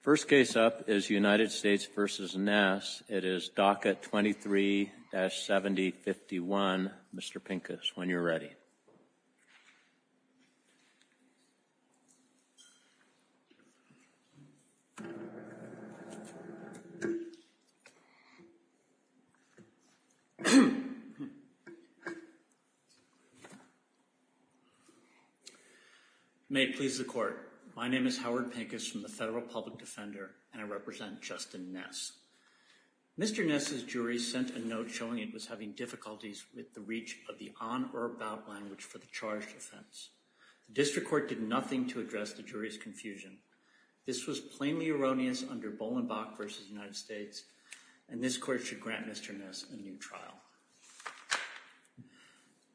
First case up is United States v. Ness. It is Docket 23-7051. Mr. Pincus, when you're ready. May it please the court. My name is Howard Pincus from the Federal Public Defender and I represent Justin Ness. Mr. Ness's jury sent a note showing it was having difficulties with the reach of the on or about language for the charged offense. The district court did nothing to address the jury's confusion. This was plainly erroneous under Bolenbach v. United States and this court should grant Mr. Ness a new trial.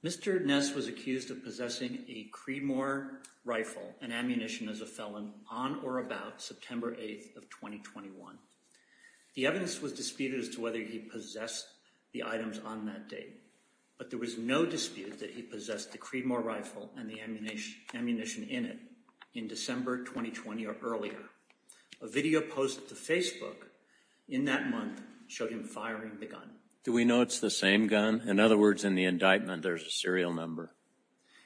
Mr. Ness was accused of possessing a Cremor rifle and ammunition as a felon on or about September 8th of 2021. The evidence was disputed as to whether he possessed the items on that date, but there was no dispute that he possessed the Cremor rifle and the ammunition in it in December 2020 or earlier. A video posted to Facebook in that month showed him firing the gun. Do we know it's the same gun? In other words, in the indictment, there's a serial number.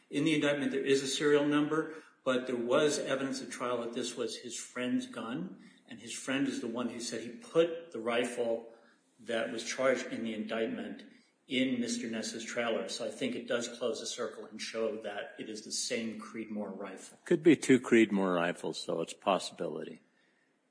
In the indictment, there is a serial number, but there was evidence of trial that this was his friend's gun and his friend is the one who said he put the rifle that was charged in the indictment in Mr. Ness's trailer, so I think it does close the circle and show that it is the same Cremor rifle. It could be two Cremor rifles, so it's a possibility.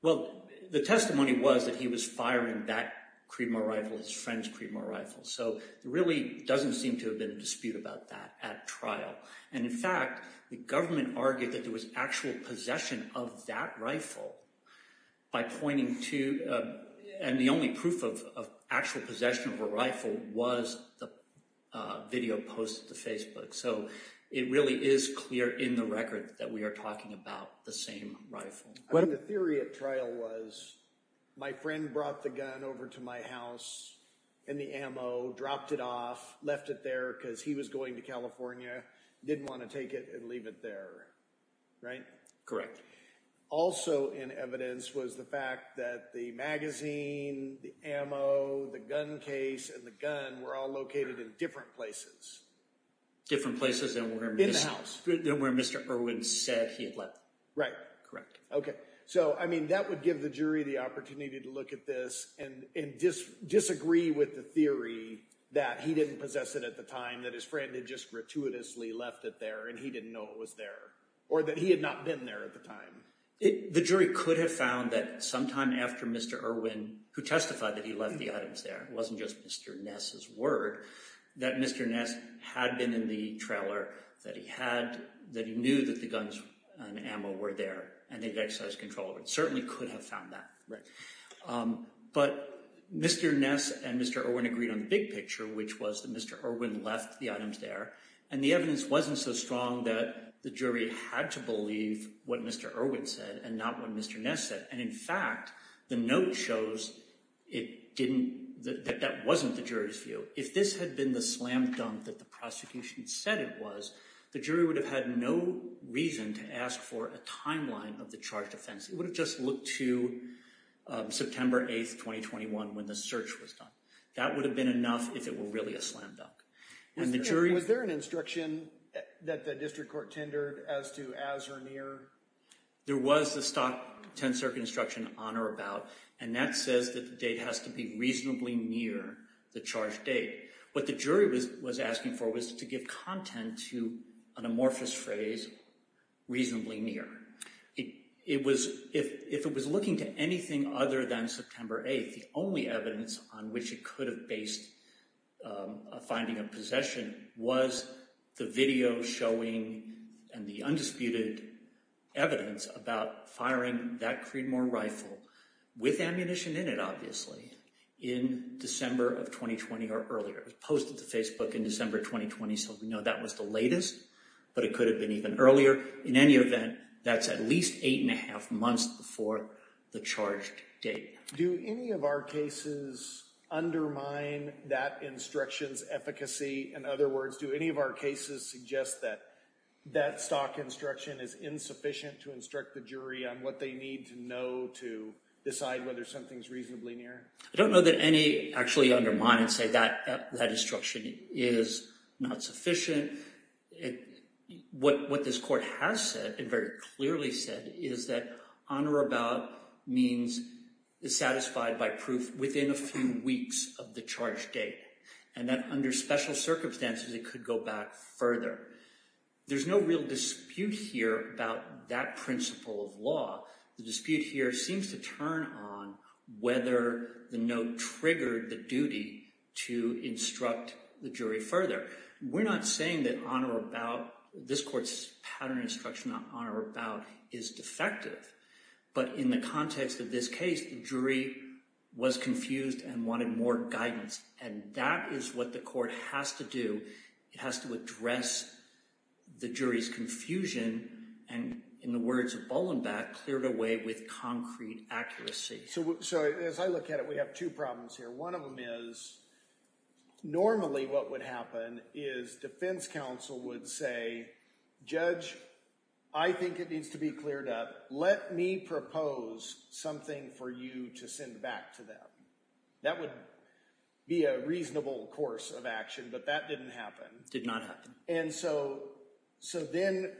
Well, the testimony was that he was firing that Cremor rifle, his friend's Cremor rifle, so there really doesn't seem to have been a dispute about that at trial, and in fact, the government argued that there was actual possession of that rifle by pointing to, and the only proof of actual possession of a rifle was the video posted to Facebook, so it really is clear in the record that we are talking about the same rifle. The theory at trial was my friend brought the gun over to my house and the ammo, dropped it off, left it there because he was going to California, didn't want to take it and leave it there, right? Correct. Also in evidence was the fact that the magazine, the ammo, the gun case, and the gun were all located in different places. Different places than where Mr. Irwin said he had left them. Right. Okay, so that would give the jury the opportunity to look at this and disagree with the theory that he didn't possess it at the time, that his friend had just gratuitously left it there and he didn't know it was there, or that he had not been there at the time. The jury could have found that sometime after Mr. Irwin, who testified that he left the items there, it wasn't just Mr. Ness's word, that Mr. Ness had been in the trailer, that he knew that the guns and ammo were there, and they'd exercised control over it. Certainly could have found that. But Mr. Ness and Mr. Irwin agreed on the big picture, which was that Mr. Irwin left the items there, and the evidence wasn't so strong that the jury had to believe what Mr. Irwin said and not what Mr. Ness said. And in fact, the note shows that that wasn't the jury's view. So if this had been the slam dunk that the prosecution said it was, the jury would have had no reason to ask for a timeline of the charged offense. It would have just looked to September 8, 2021, when the search was done. That would have been enough if it were really a slam dunk. Was there an instruction that the district court tendered as to as or near? There was the Stockton Circuit instruction on or about, and that says that the date has to be reasonably near the charged date. What the jury was asking for was to give content to an amorphous phrase, reasonably near. If it was looking to anything other than September 8, the only evidence on which it could have based a finding of possession was the video showing and the undisputed evidence about firing that Creedmoor rifle with ammunition in it, obviously, in December of 2020 or earlier. It was posted to Facebook in December 2020, so we know that was the latest, but it could have been even earlier. In any event, that's at least eight and a half months before the charged date. Do any of our cases undermine that instruction's efficacy? In other words, do any of our cases suggest that that stock instruction is insufficient to instruct the jury on what they need to know to decide whether something's reasonably near? I don't know that any actually undermine and say that that instruction is not sufficient. What this court has said and very clearly said is that on or about means satisfied by proof within a few weeks of the charged date, and that under special circumstances, it could go back further. There's no real dispute here about that principle of law. The dispute here seems to turn on whether the note triggered the duty to instruct the jury further. We're not saying that on or about this court's pattern instruction on or about is defective, but in the context of this case, the jury was confused and wanted more guidance. And that is what the court has to do. It has to address the jury's confusion and, in the words of Bolenback, cleared away with concrete accuracy. So as I look at it, we have two problems here. One of them is normally what would happen is defense counsel would say, judge, I think it needs to be cleared up. Let me propose something for you to send back to them. That would be a reasonable course of action, but that didn't happen. Did not happen. And so then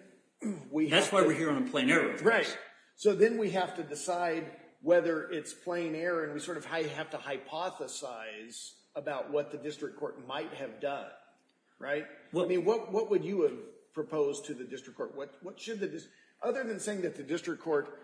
we have to— That's why we're here on a plain error case. Right. So then we have to decide whether it's plain error, and we sort of have to hypothesize about what the district court might have done, right? I mean, what would you have proposed to the district court? What should the district—other than saying that the district court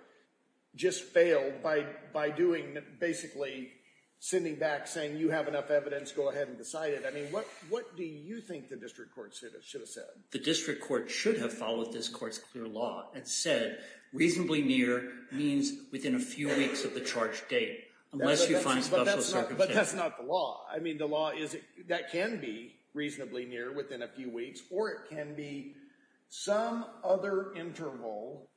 just failed by doing basically sending back saying you have enough evidence, go ahead and decide it. I mean, what do you think the district court should have said? The district court should have followed this court's clear law and said reasonably near means within a few weeks of the charge date, unless you find special circumstances. But that's not the law. I mean, the law is that can be reasonably near, within a few weeks, or it can be some other interval,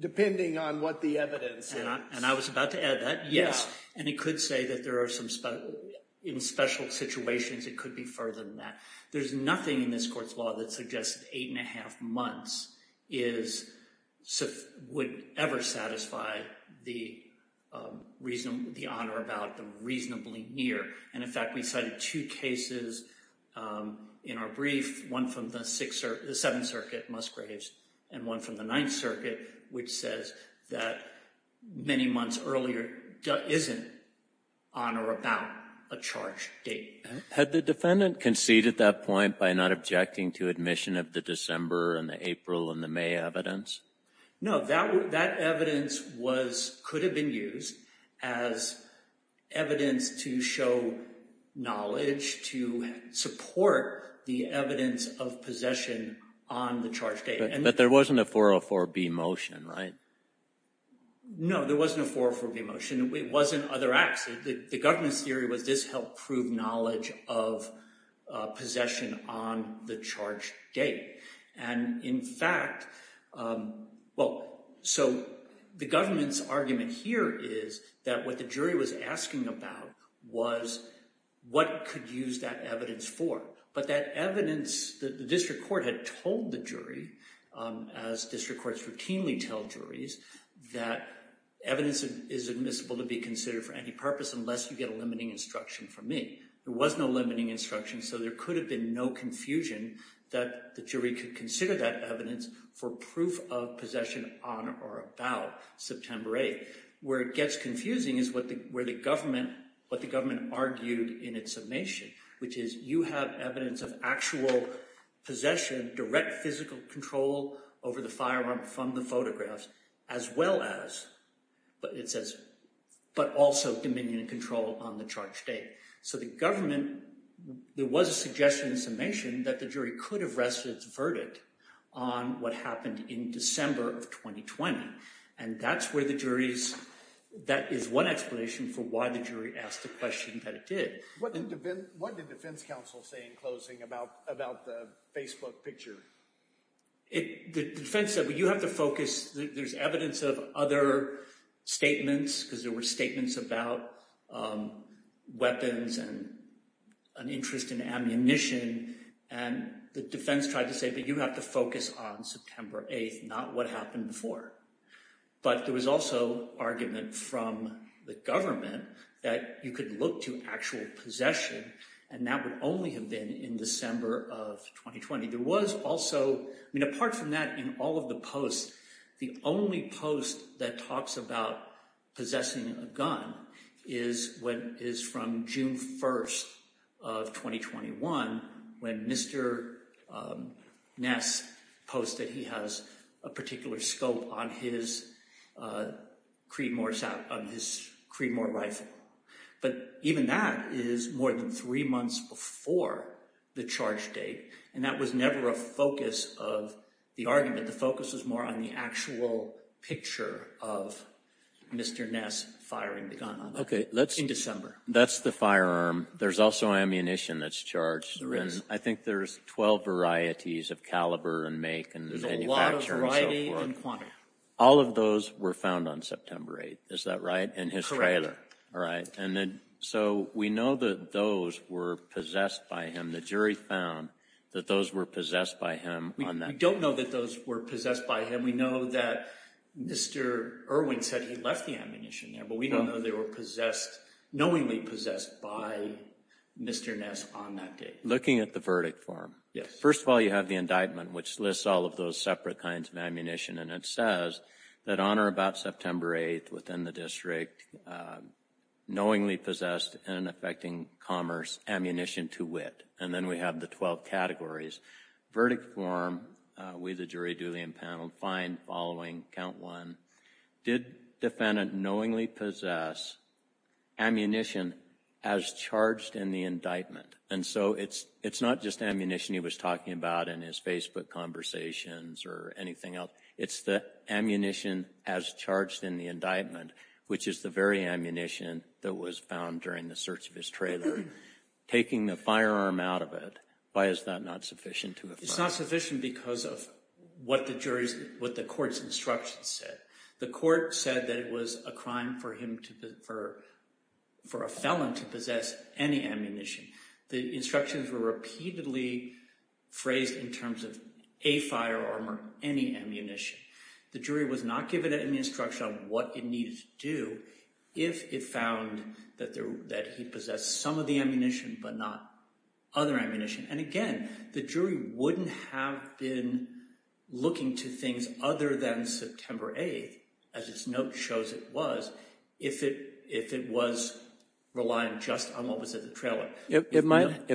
depending on what the evidence is. And I was about to add that, yes. And it could say that there are some special—in special situations, it could be further than that. There's nothing in this court's law that suggests eight and a half months is—would ever satisfy the reason—the honor about the reasonably near. And in fact, we cited two cases in our brief, one from the Seventh Circuit, Musgraves, and one from the Ninth Circuit, which says that many months earlier isn't on or about a charge date. Had the defendant conceded that point by not objecting to admission of the December and the April and the May evidence? No, that evidence was—could have been used as evidence to show knowledge, to support the evidence of possession on the charge date. But there wasn't a 404B motion, right? No, there wasn't a 404B motion. It wasn't other acts. The government's theory was this helped prove knowledge of possession on the charge date. And in fact—well, so the government's argument here is that what the jury was asking about was what it could use that evidence for. But that evidence—the district court had told the jury, as district courts routinely tell juries, that evidence is admissible to be considered for any purpose unless you get a limiting instruction from me. There was no limiting instruction, so there could have been no confusion that the jury could consider that evidence for proof of possession on or about September 8th. Where it gets confusing is what the government argued in its summation, which is you have evidence of actual possession, direct physical control over the firearm from the photographs, as well as—but it says—but also dominion and control on the charge date. So the government—there was a suggestion in the summation that the jury could have rested its verdict on what happened in December of 2020. And that's where the jury's—that is one explanation for why the jury asked the question that it did. What did defense counsel say in closing about the Facebook picture? The defense said, well, you have to focus—there's evidence of other statements, because there were statements about weapons and an interest in ammunition. And the defense tried to say, but you have to focus on September 8th, not what happened before. But there was also argument from the government that you could look to actual possession, and that would only have been in December of 2020. There was also—I mean, apart from that, in all of the posts, the only post that talks about possessing a gun is from June 1st of 2021, when Mr. Ness posted he has a particular scope on his Creedmoor rifle. But even that is more than three months before the charge date, and that was never a focus of the argument. The focus was more on the actual picture of Mr. Ness firing the gun in December. Okay, that's the firearm. There's also ammunition that's charged. There is. And I think there's 12 varieties of caliber and make and manufacturing and so forth. There's a lot of variety and quantity. All of those were found on September 8th. Is that right? In his trailer. And then so we know that those were possessed by him. The jury found that those were possessed by him on that day. We don't know that those were possessed by him. We know that Mr. Irwin said he left the ammunition there, but we don't know they were possessed, knowingly possessed, by Mr. Ness on that day. Looking at the verdict form. Yes. First of all, you have the indictment, which lists all of those separate kinds of ammunition, and it says that on or about September 8th, within the district, knowingly possessed and affecting commerce, ammunition to wit. And then we have the 12 categories. Verdict form, we, the jury, duly impaneled. Find following count one. Did defendant knowingly possess ammunition as charged in the indictment? And so it's not just ammunition he was talking about in his Facebook conversations or anything else. It's the ammunition as charged in the indictment, which is the very ammunition that was found during the search of his trailer. Taking the firearm out of it, why is that not sufficient to affirm? It's not sufficient because of what the jury's, what the court's instructions said. The court said that it was a crime for him to, for a felon to possess any ammunition. The instructions were repeatedly phrased in terms of a firearm or any ammunition. The jury was not given any instruction on what it needed to do if it found that he possessed some of the ammunition but not other ammunition. And again, the jury wouldn't have been looking to things other than September 8th, as its note shows it was, if it was relying just on what was in the trailer. It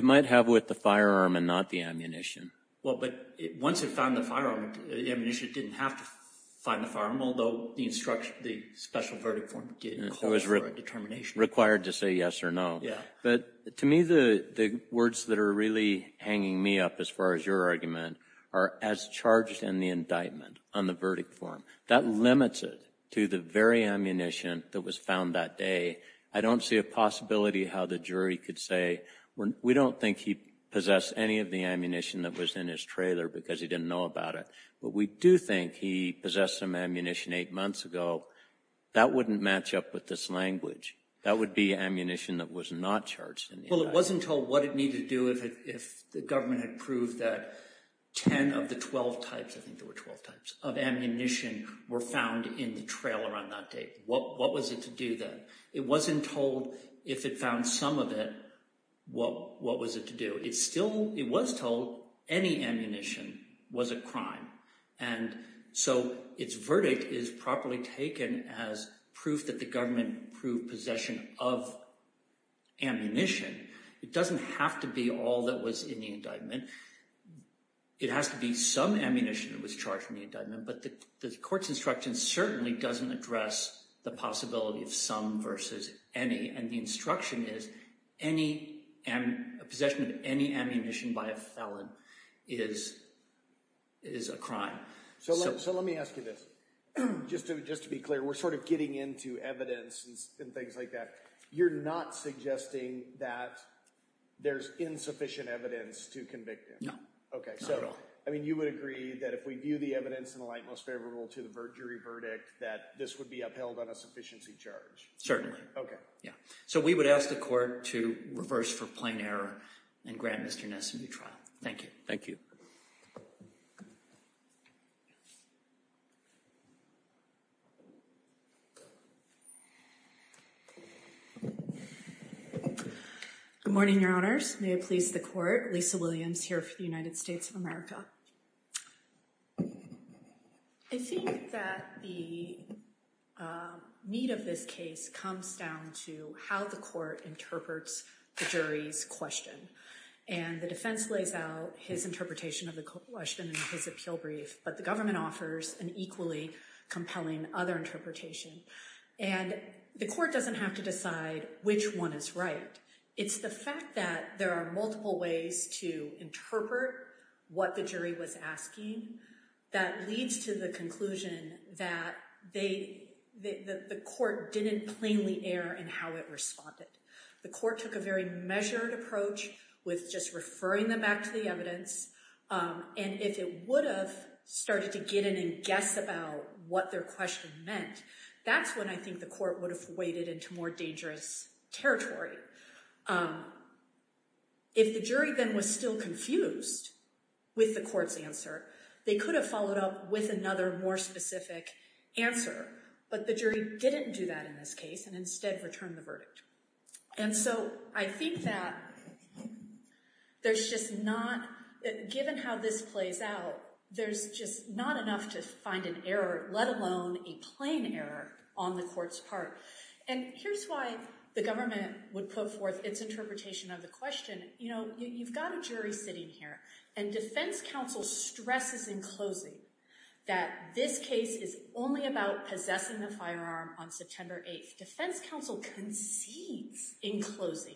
might have with the firearm and not the ammunition. Well, but once it found the firearm, the ammunition didn't have to find the firearm, although the special verdict form did call for a determination. It was required to say yes or no. But to me, the words that are really hanging me up, as far as your argument, are as charged in the indictment on the verdict form. That limits it to the very ammunition that was found that day. I don't see a possibility how the jury could say, we don't think he possessed any of the ammunition that was in his trailer because he didn't know about it. But we do think he possessed some ammunition eight months ago. That wouldn't match up with this language. That would be ammunition that was not charged in the indictment. Well, it wasn't told what it needed to do if the government had proved that 10 of the 12 types, I think there were 12 types, of ammunition were found in the trailer on that day. What was it to do then? It wasn't told if it found some of it, what was it to do? It still, it was told any ammunition was a crime. So its verdict is properly taken as proof that the government proved possession of ammunition. It doesn't have to be all that was in the indictment. It has to be some ammunition that was charged in the indictment. But the court's instruction certainly doesn't address the possibility of some versus any. And the instruction is possession of any ammunition by a felon is a crime. So let me ask you this. Just to be clear, we're sort of getting into evidence and things like that. You're not suggesting that there's insufficient evidence to convict him? No, not at all. Okay, so you would agree that if we view the evidence in the light most favorable to the jury verdict that this would be upheld on a sufficiency charge? Certainly. Okay. So we would ask the court to reverse for plain error and grant Mr. Ness a new trial. Thank you. Thank you. Good morning, Your Honors. May it please the court. Lisa Williams here for the United States of America. I think that the meat of this case comes down to how the court interprets the jury's question. And the defense lays out his interpretation of the question in his appeal brief. But the government offers an equally compelling other interpretation. And the court doesn't have to decide which one is right. It's the fact that there are multiple ways to interpret what the jury was asking that leads to the conclusion that the court didn't plainly err in how it responded. The court took a very measured approach with just referring them back to the evidence. And if it would have started to get in and guess about what their question meant, that's when I think the court would have waded into more dangerous territory. If the jury then was still confused with the court's answer, they could have followed up with another more specific answer. But the jury didn't do that in this case and instead returned the verdict. And so I think that there's just not, given how this plays out, there's just not enough to find an error, let alone a plain error on the court's part. And here's why the government would put forth its interpretation of the question. You know, you've got a jury sitting here and defense counsel stresses in closing that this case is only about possessing the firearm on September 8th. The defense counsel concedes in closing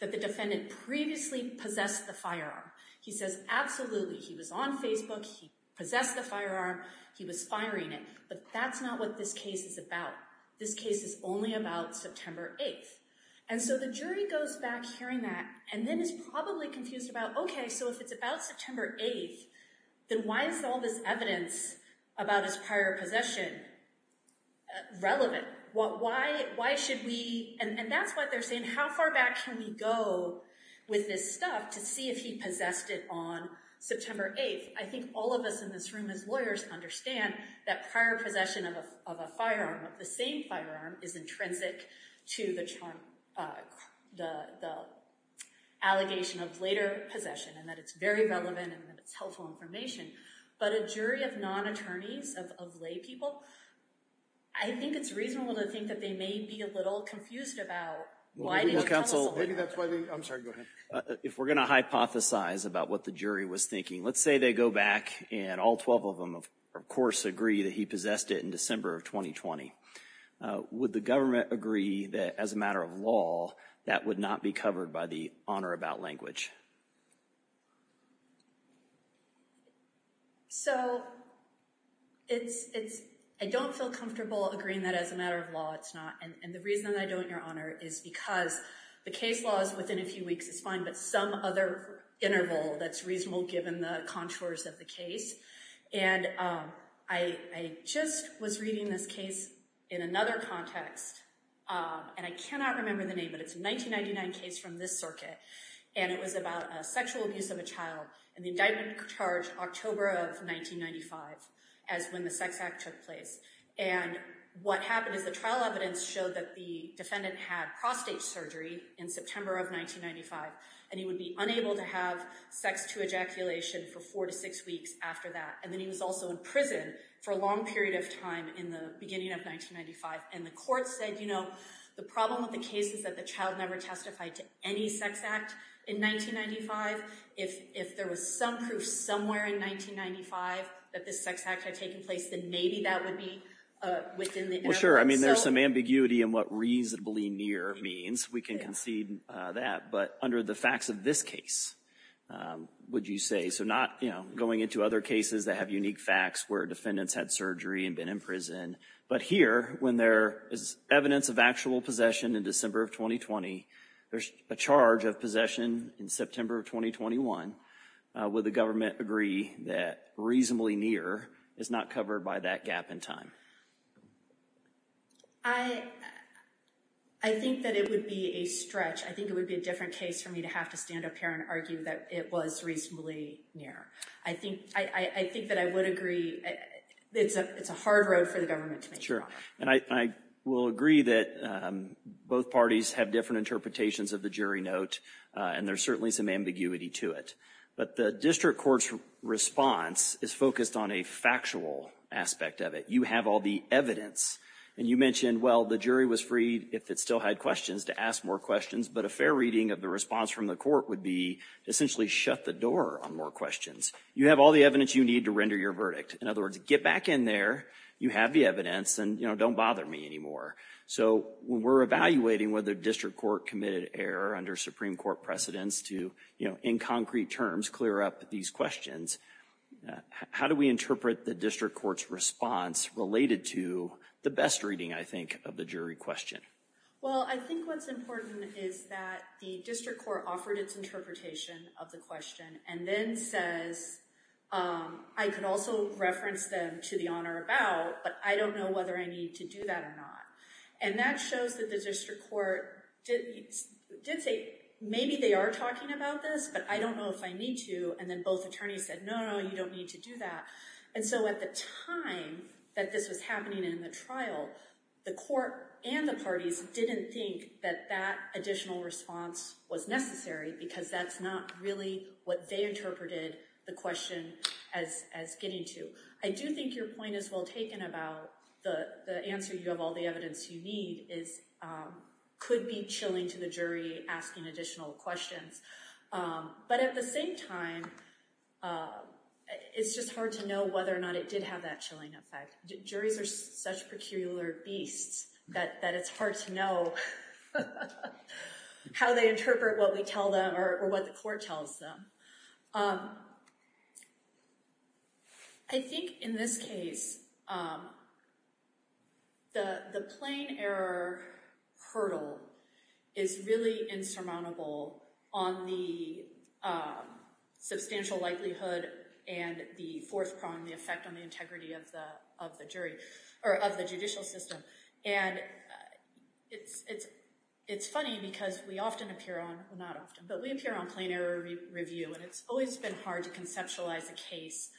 that the defendant previously possessed the firearm. He says, absolutely, he was on Facebook, he possessed the firearm, he was firing it. But that's not what this case is about. This case is only about September 8th. And so the jury goes back hearing that and then is probably confused about, OK, so if it's about September 8th, then why is all this evidence about his prior possession relevant? Why should we? And that's what they're saying. How far back can we go with this stuff to see if he possessed it on September 8th? I think all of us in this room as lawyers understand that prior possession of a firearm, of the same firearm, is intrinsic to the allegation of later possession and that it's very relevant and that it's helpful information. But a jury of non-attorneys, of lay people, I think it's reasonable to think that they may be a little confused about why they didn't tell us later. If we're going to hypothesize about what the jury was thinking, let's say they go back and all 12 of them, of course, agree that he possessed it in December of 2020. Would the government agree that as a matter of law, that would not be covered by the Honor About Language? So, I don't feel comfortable agreeing that as a matter of law, it's not. And the reason I don't, Your Honor, is because the case law is within a few weeks. It's fine, but some other interval that's reasonable given the contours of the case. And I just was reading this case in another context, and I cannot remember the name, but it's a 1999 case from this circuit. And it was about a sexual abuse of a child and the indictment charged October of 1995 as when the Sex Act took place. And what happened is the trial evidence showed that the defendant had prostate surgery in September of 1995. And he would be unable to have sex to ejaculation for four to six weeks after that. And then he was also in prison for a long period of time in the beginning of 1995. And the court said, you know, the problem with the case is that the child never testified to any sex act in 1995. If there was some proof somewhere in 1995 that the sex act had taken place, then maybe that would be within the interval. Well, sure. I mean, there's some ambiguity in what reasonably near means. We can concede that. But under the facts of this case, would you say? So not, you know, going into other cases that have unique facts where defendants had surgery and been in prison. But here, when there is evidence of actual possession in December of 2020, there's a charge of possession in September of 2021. Would the government agree that reasonably near is not covered by that gap in time? I think that it would be a stretch. I think it would be a different case for me to have to stand up here and argue that it was reasonably near. I think that I would agree it's a hard road for the government to make. Sure. And I will agree that both parties have different interpretations of the jury note. And there's certainly some ambiguity to it. But the district court's response is focused on a factual aspect of it. You have all the evidence. And you mentioned, well, the jury was free, if it still had questions, to ask more questions. But a fair reading of the response from the court would be essentially shut the door on more questions. You have all the evidence you need to render your verdict. In other words, get back in there. You have the evidence. And, you know, don't bother me anymore. So we're evaluating whether district court committed error under Supreme Court precedence to, you know, in concrete terms, clear up these questions. How do we interpret the district court's response related to the best reading, I think, of the jury question? Well, I think what's important is that the district court offered its interpretation of the question and then says, I could also reference them to the on or about, but I don't know whether I need to do that or not. And that shows that the district court did say, maybe they are talking about this, but I don't know if I need to. And then both attorneys said, no, no, you don't need to do that. And so at the time that this was happening in the trial, the court and the parties didn't think that that additional response was necessary because that's not really what they interpreted the question as getting to. I do think your point is well taken about the answer. You have all the evidence you need is could be chilling to the jury asking additional questions. But at the same time, it's just hard to know whether or not it did have that chilling effect. Juries are such peculiar beasts that it's hard to know how they interpret what we tell them or what the court tells them. I think in this case, the plain error hurdle is really insurmountable on the substantial likelihood and the fourth prong, the effect on the integrity of the judicial system. And it's funny because we often appear on, well not often, but we appear on plain error review and it's always been hard to conceptualize a case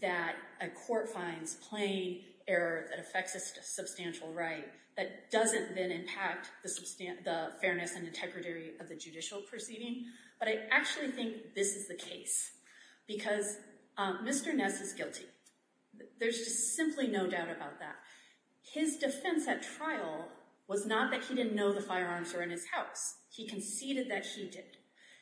that a court finds plain error that affects a substantial right that doesn't then impact the fairness and integrity of the judicial proceeding. But I actually think this is the case because Mr. Ness is guilty. There's just simply no doubt about that. His defense at trial was not that he didn't know the firearms were in his house. He conceded that he did.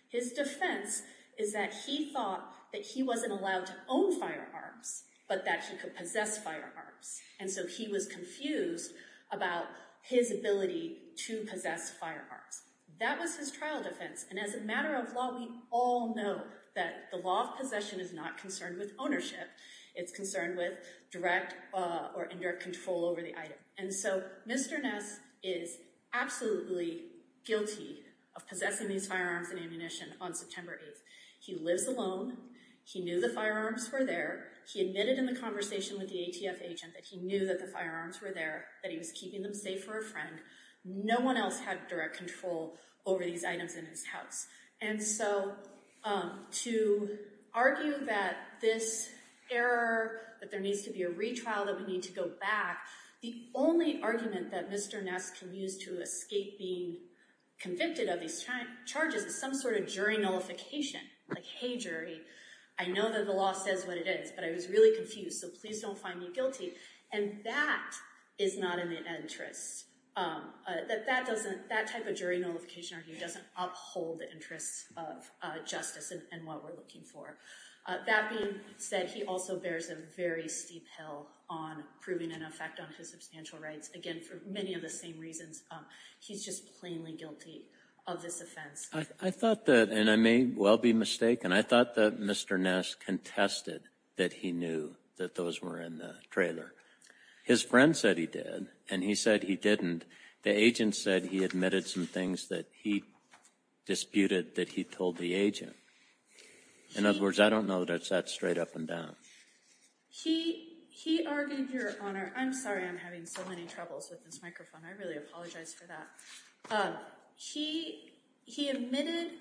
His defense is that he thought that he wasn't allowed to own firearms, but that he could possess firearms. And so he was confused about his ability to possess firearms. That was his trial defense. And as a matter of law, we all know that the law of possession is not concerned with ownership. It's concerned with direct or indirect control over the item. And so Mr. Ness is absolutely guilty of possessing these firearms and ammunition on September 8th. He lives alone. He knew the firearms were there. He admitted in the conversation with the ATF agent that he knew that the firearms were there, that he was keeping them safe for a friend. No one else had direct control over these items in his house. And so to argue that this error, that there needs to be a retrial, that we need to go back, the only argument that Mr. Ness can use to escape being convicted of these charges is some sort of jury nullification. Like, hey, jury, I know that the law says what it is, but I was really confused, so please don't find me guilty. And that is not in the interest. That type of jury nullification argument doesn't uphold the interests of justice and what we're looking for. That being said, he also bears a very steep hill on proving an effect on his substantial rights. Again, for many of the same reasons, he's just plainly guilty of this offense. I thought that, and I may well be mistaken, I thought that Mr. Ness contested that he knew that those were in the trailer. His friend said he did, and he said he didn't. The agent said he admitted some things that he disputed that he told the agent. In other words, I don't know that it's that straight up and down. He argued, Your Honor, I'm sorry I'm having so many troubles with this microphone. I really apologize for that. He admitted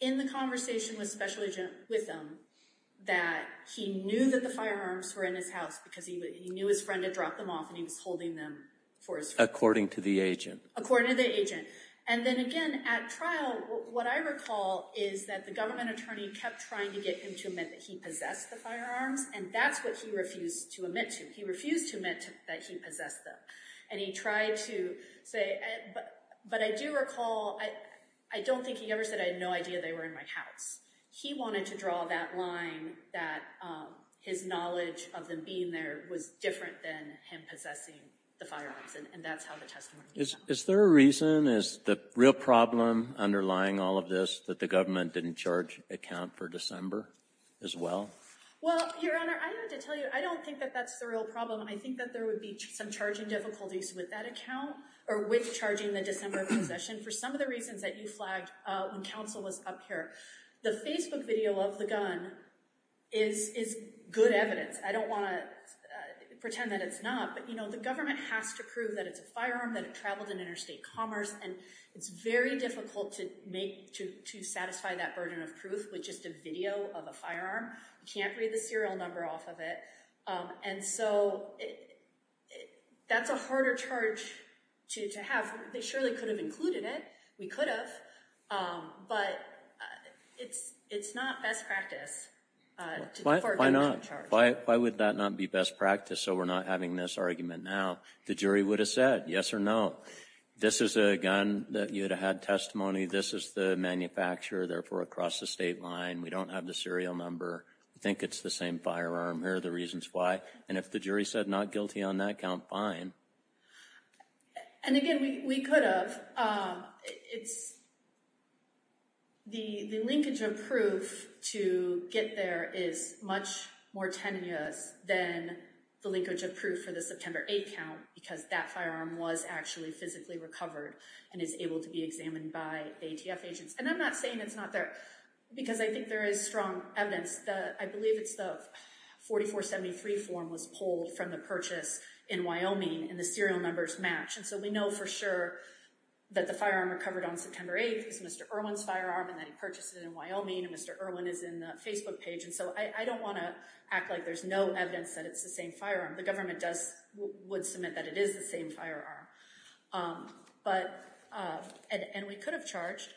in the conversation with the special agent with him that he knew that the firearms were in his house because he knew his friend had dropped them off and he was holding them for his friend. According to the agent. According to the agent. And then again, at trial, what I recall is that the government attorney kept trying to get him to admit that he possessed the firearms, and that's what he refused to admit to. He refused to admit that he possessed them. And he tried to say, but I do recall, I don't think he ever said I had no idea they were in my house. He wanted to draw that line that his knowledge of them being there was different than him possessing the firearms, and that's how the testimony came out. Is there a reason? Is the real problem underlying all of this that the government didn't charge a count for December as well? Well, Your Honor, I have to tell you, I don't think that that's the real problem. I think that there would be some charging difficulties with that account or with charging the December possession for some of the reasons that you flagged when counsel was up here. The Facebook video of the gun is good evidence. I don't want to pretend that it's not, but, you know, the government has to prove that it's a firearm, that it traveled in interstate commerce, and it's very difficult to satisfy that burden of proof with just a video of a firearm. You can't read the serial number off of it. And so that's a harder charge to have. They surely could have included it. We could have, but it's not best practice. Why not? Why would that not be best practice so we're not having this argument now? The jury would have said yes or no. This is a gun that you would have had testimony. This is the manufacturer, therefore, across the state line. We don't have the serial number. We think it's the same firearm. Here are the reasons why. And if the jury said not guilty on that count, fine. And, again, we could have. The linkage of proof to get there is much more tenuous than the linkage of proof for the September 8th count because that firearm was actually physically recovered and is able to be examined by ATF agents. And I'm not saying it's not there because I think there is strong evidence. I believe it's the 4473 form was pulled from the purchase in Wyoming and the serial numbers match. And so we know for sure that the firearm recovered on September 8th is Mr. Irwin's firearm and that he purchased it in Wyoming and Mr. Irwin is in the Facebook page. And so I don't want to act like there's no evidence that it's the same firearm. The government would submit that it is the same firearm. But and we could have charged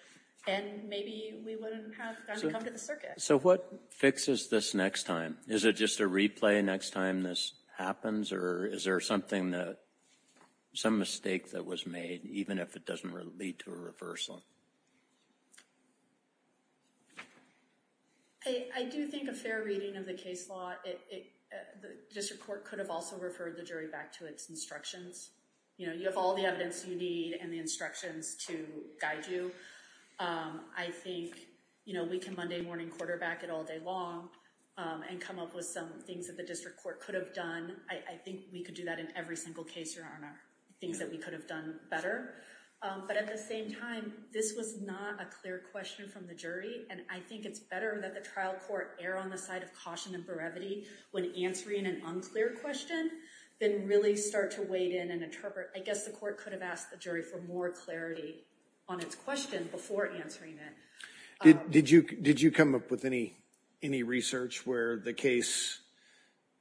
and maybe we wouldn't have had to come to the circuit. So what fixes this next time? Is it just a replay next time this happens or is there something that some mistake that was made, even if it doesn't lead to a reversal? I do think a fair reading of the case law. The district court could have also referred the jury back to its instructions. You know, you have all the evidence you need and the instructions to guide you. I think, you know, we can Monday morning quarterback it all day long and come up with some things that the district court could have done. I think we could do that in every single case. There are things that we could have done better. But at the same time, this was not a clear question from the jury. And I think it's better that the trial court err on the side of caution and brevity when answering an unclear question, then really start to wade in and interpret. I guess the court could have asked the jury for more clarity on its question before answering it. Did you did you come up with any any research where the case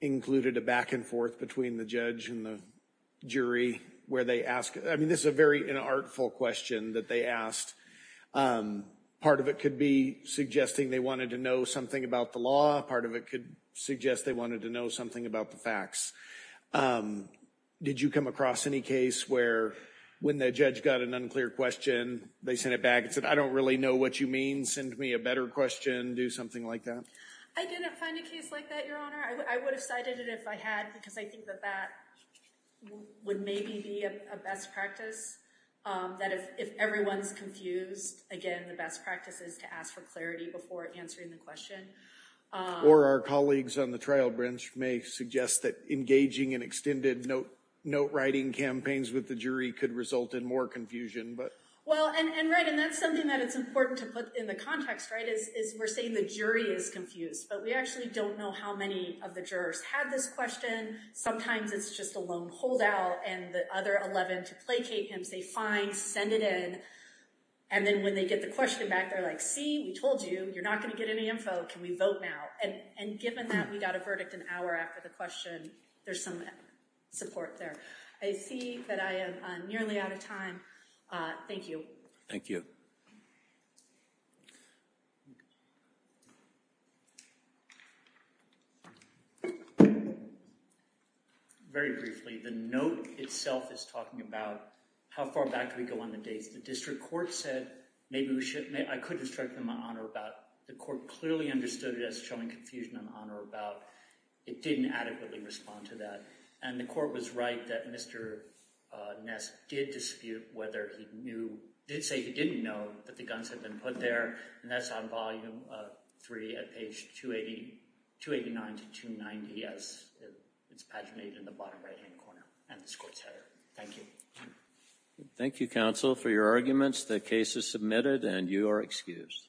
included a back and forth between the judge and the jury where they ask? I mean, this is a very artful question that they asked. Part of it could be suggesting they wanted to know something about the law. Part of it could suggest they wanted to know something about the facts. Did you come across any case where when the judge got an unclear question, they sent it back and said, I don't really know what you mean. Send me a better question. Do something like that. I didn't find a case like that, Your Honor. I would have cited it if I had, because I think that that would maybe be a best practice. That if everyone's confused, again, the best practice is to ask for clarity before answering the question. Or our colleagues on the trial branch may suggest that engaging in extended note, note writing campaigns with the jury could result in more confusion. Well, and that's something that it's important to put in the context, right, is we're saying the jury is confused. But we actually don't know how many of the jurors had this question. Sometimes it's just a lone holdout and the other 11 to placate him, say, fine, send it in. And then when they get the question back, they're like, see, we told you you're not going to get any info. Can we vote now? And given that we got a verdict an hour after the question, there's some support there. I see that I am nearly out of time. Thank you. Thank you. Very briefly, the note itself is talking about how far back we go on the dates. The district court said maybe we should. I could instruct them on or about. The court clearly understood it as showing confusion on or about. It didn't adequately respond to that. And the court was right that Mr. Ness did dispute whether he knew, did say he didn't know that the guns had been put there. And that's on volume three at page 289 to 290. Yes, it's paginated in the bottom right hand corner. And this court said, thank you. Thank you, counsel, for your arguments. The case is submitted and you are excused.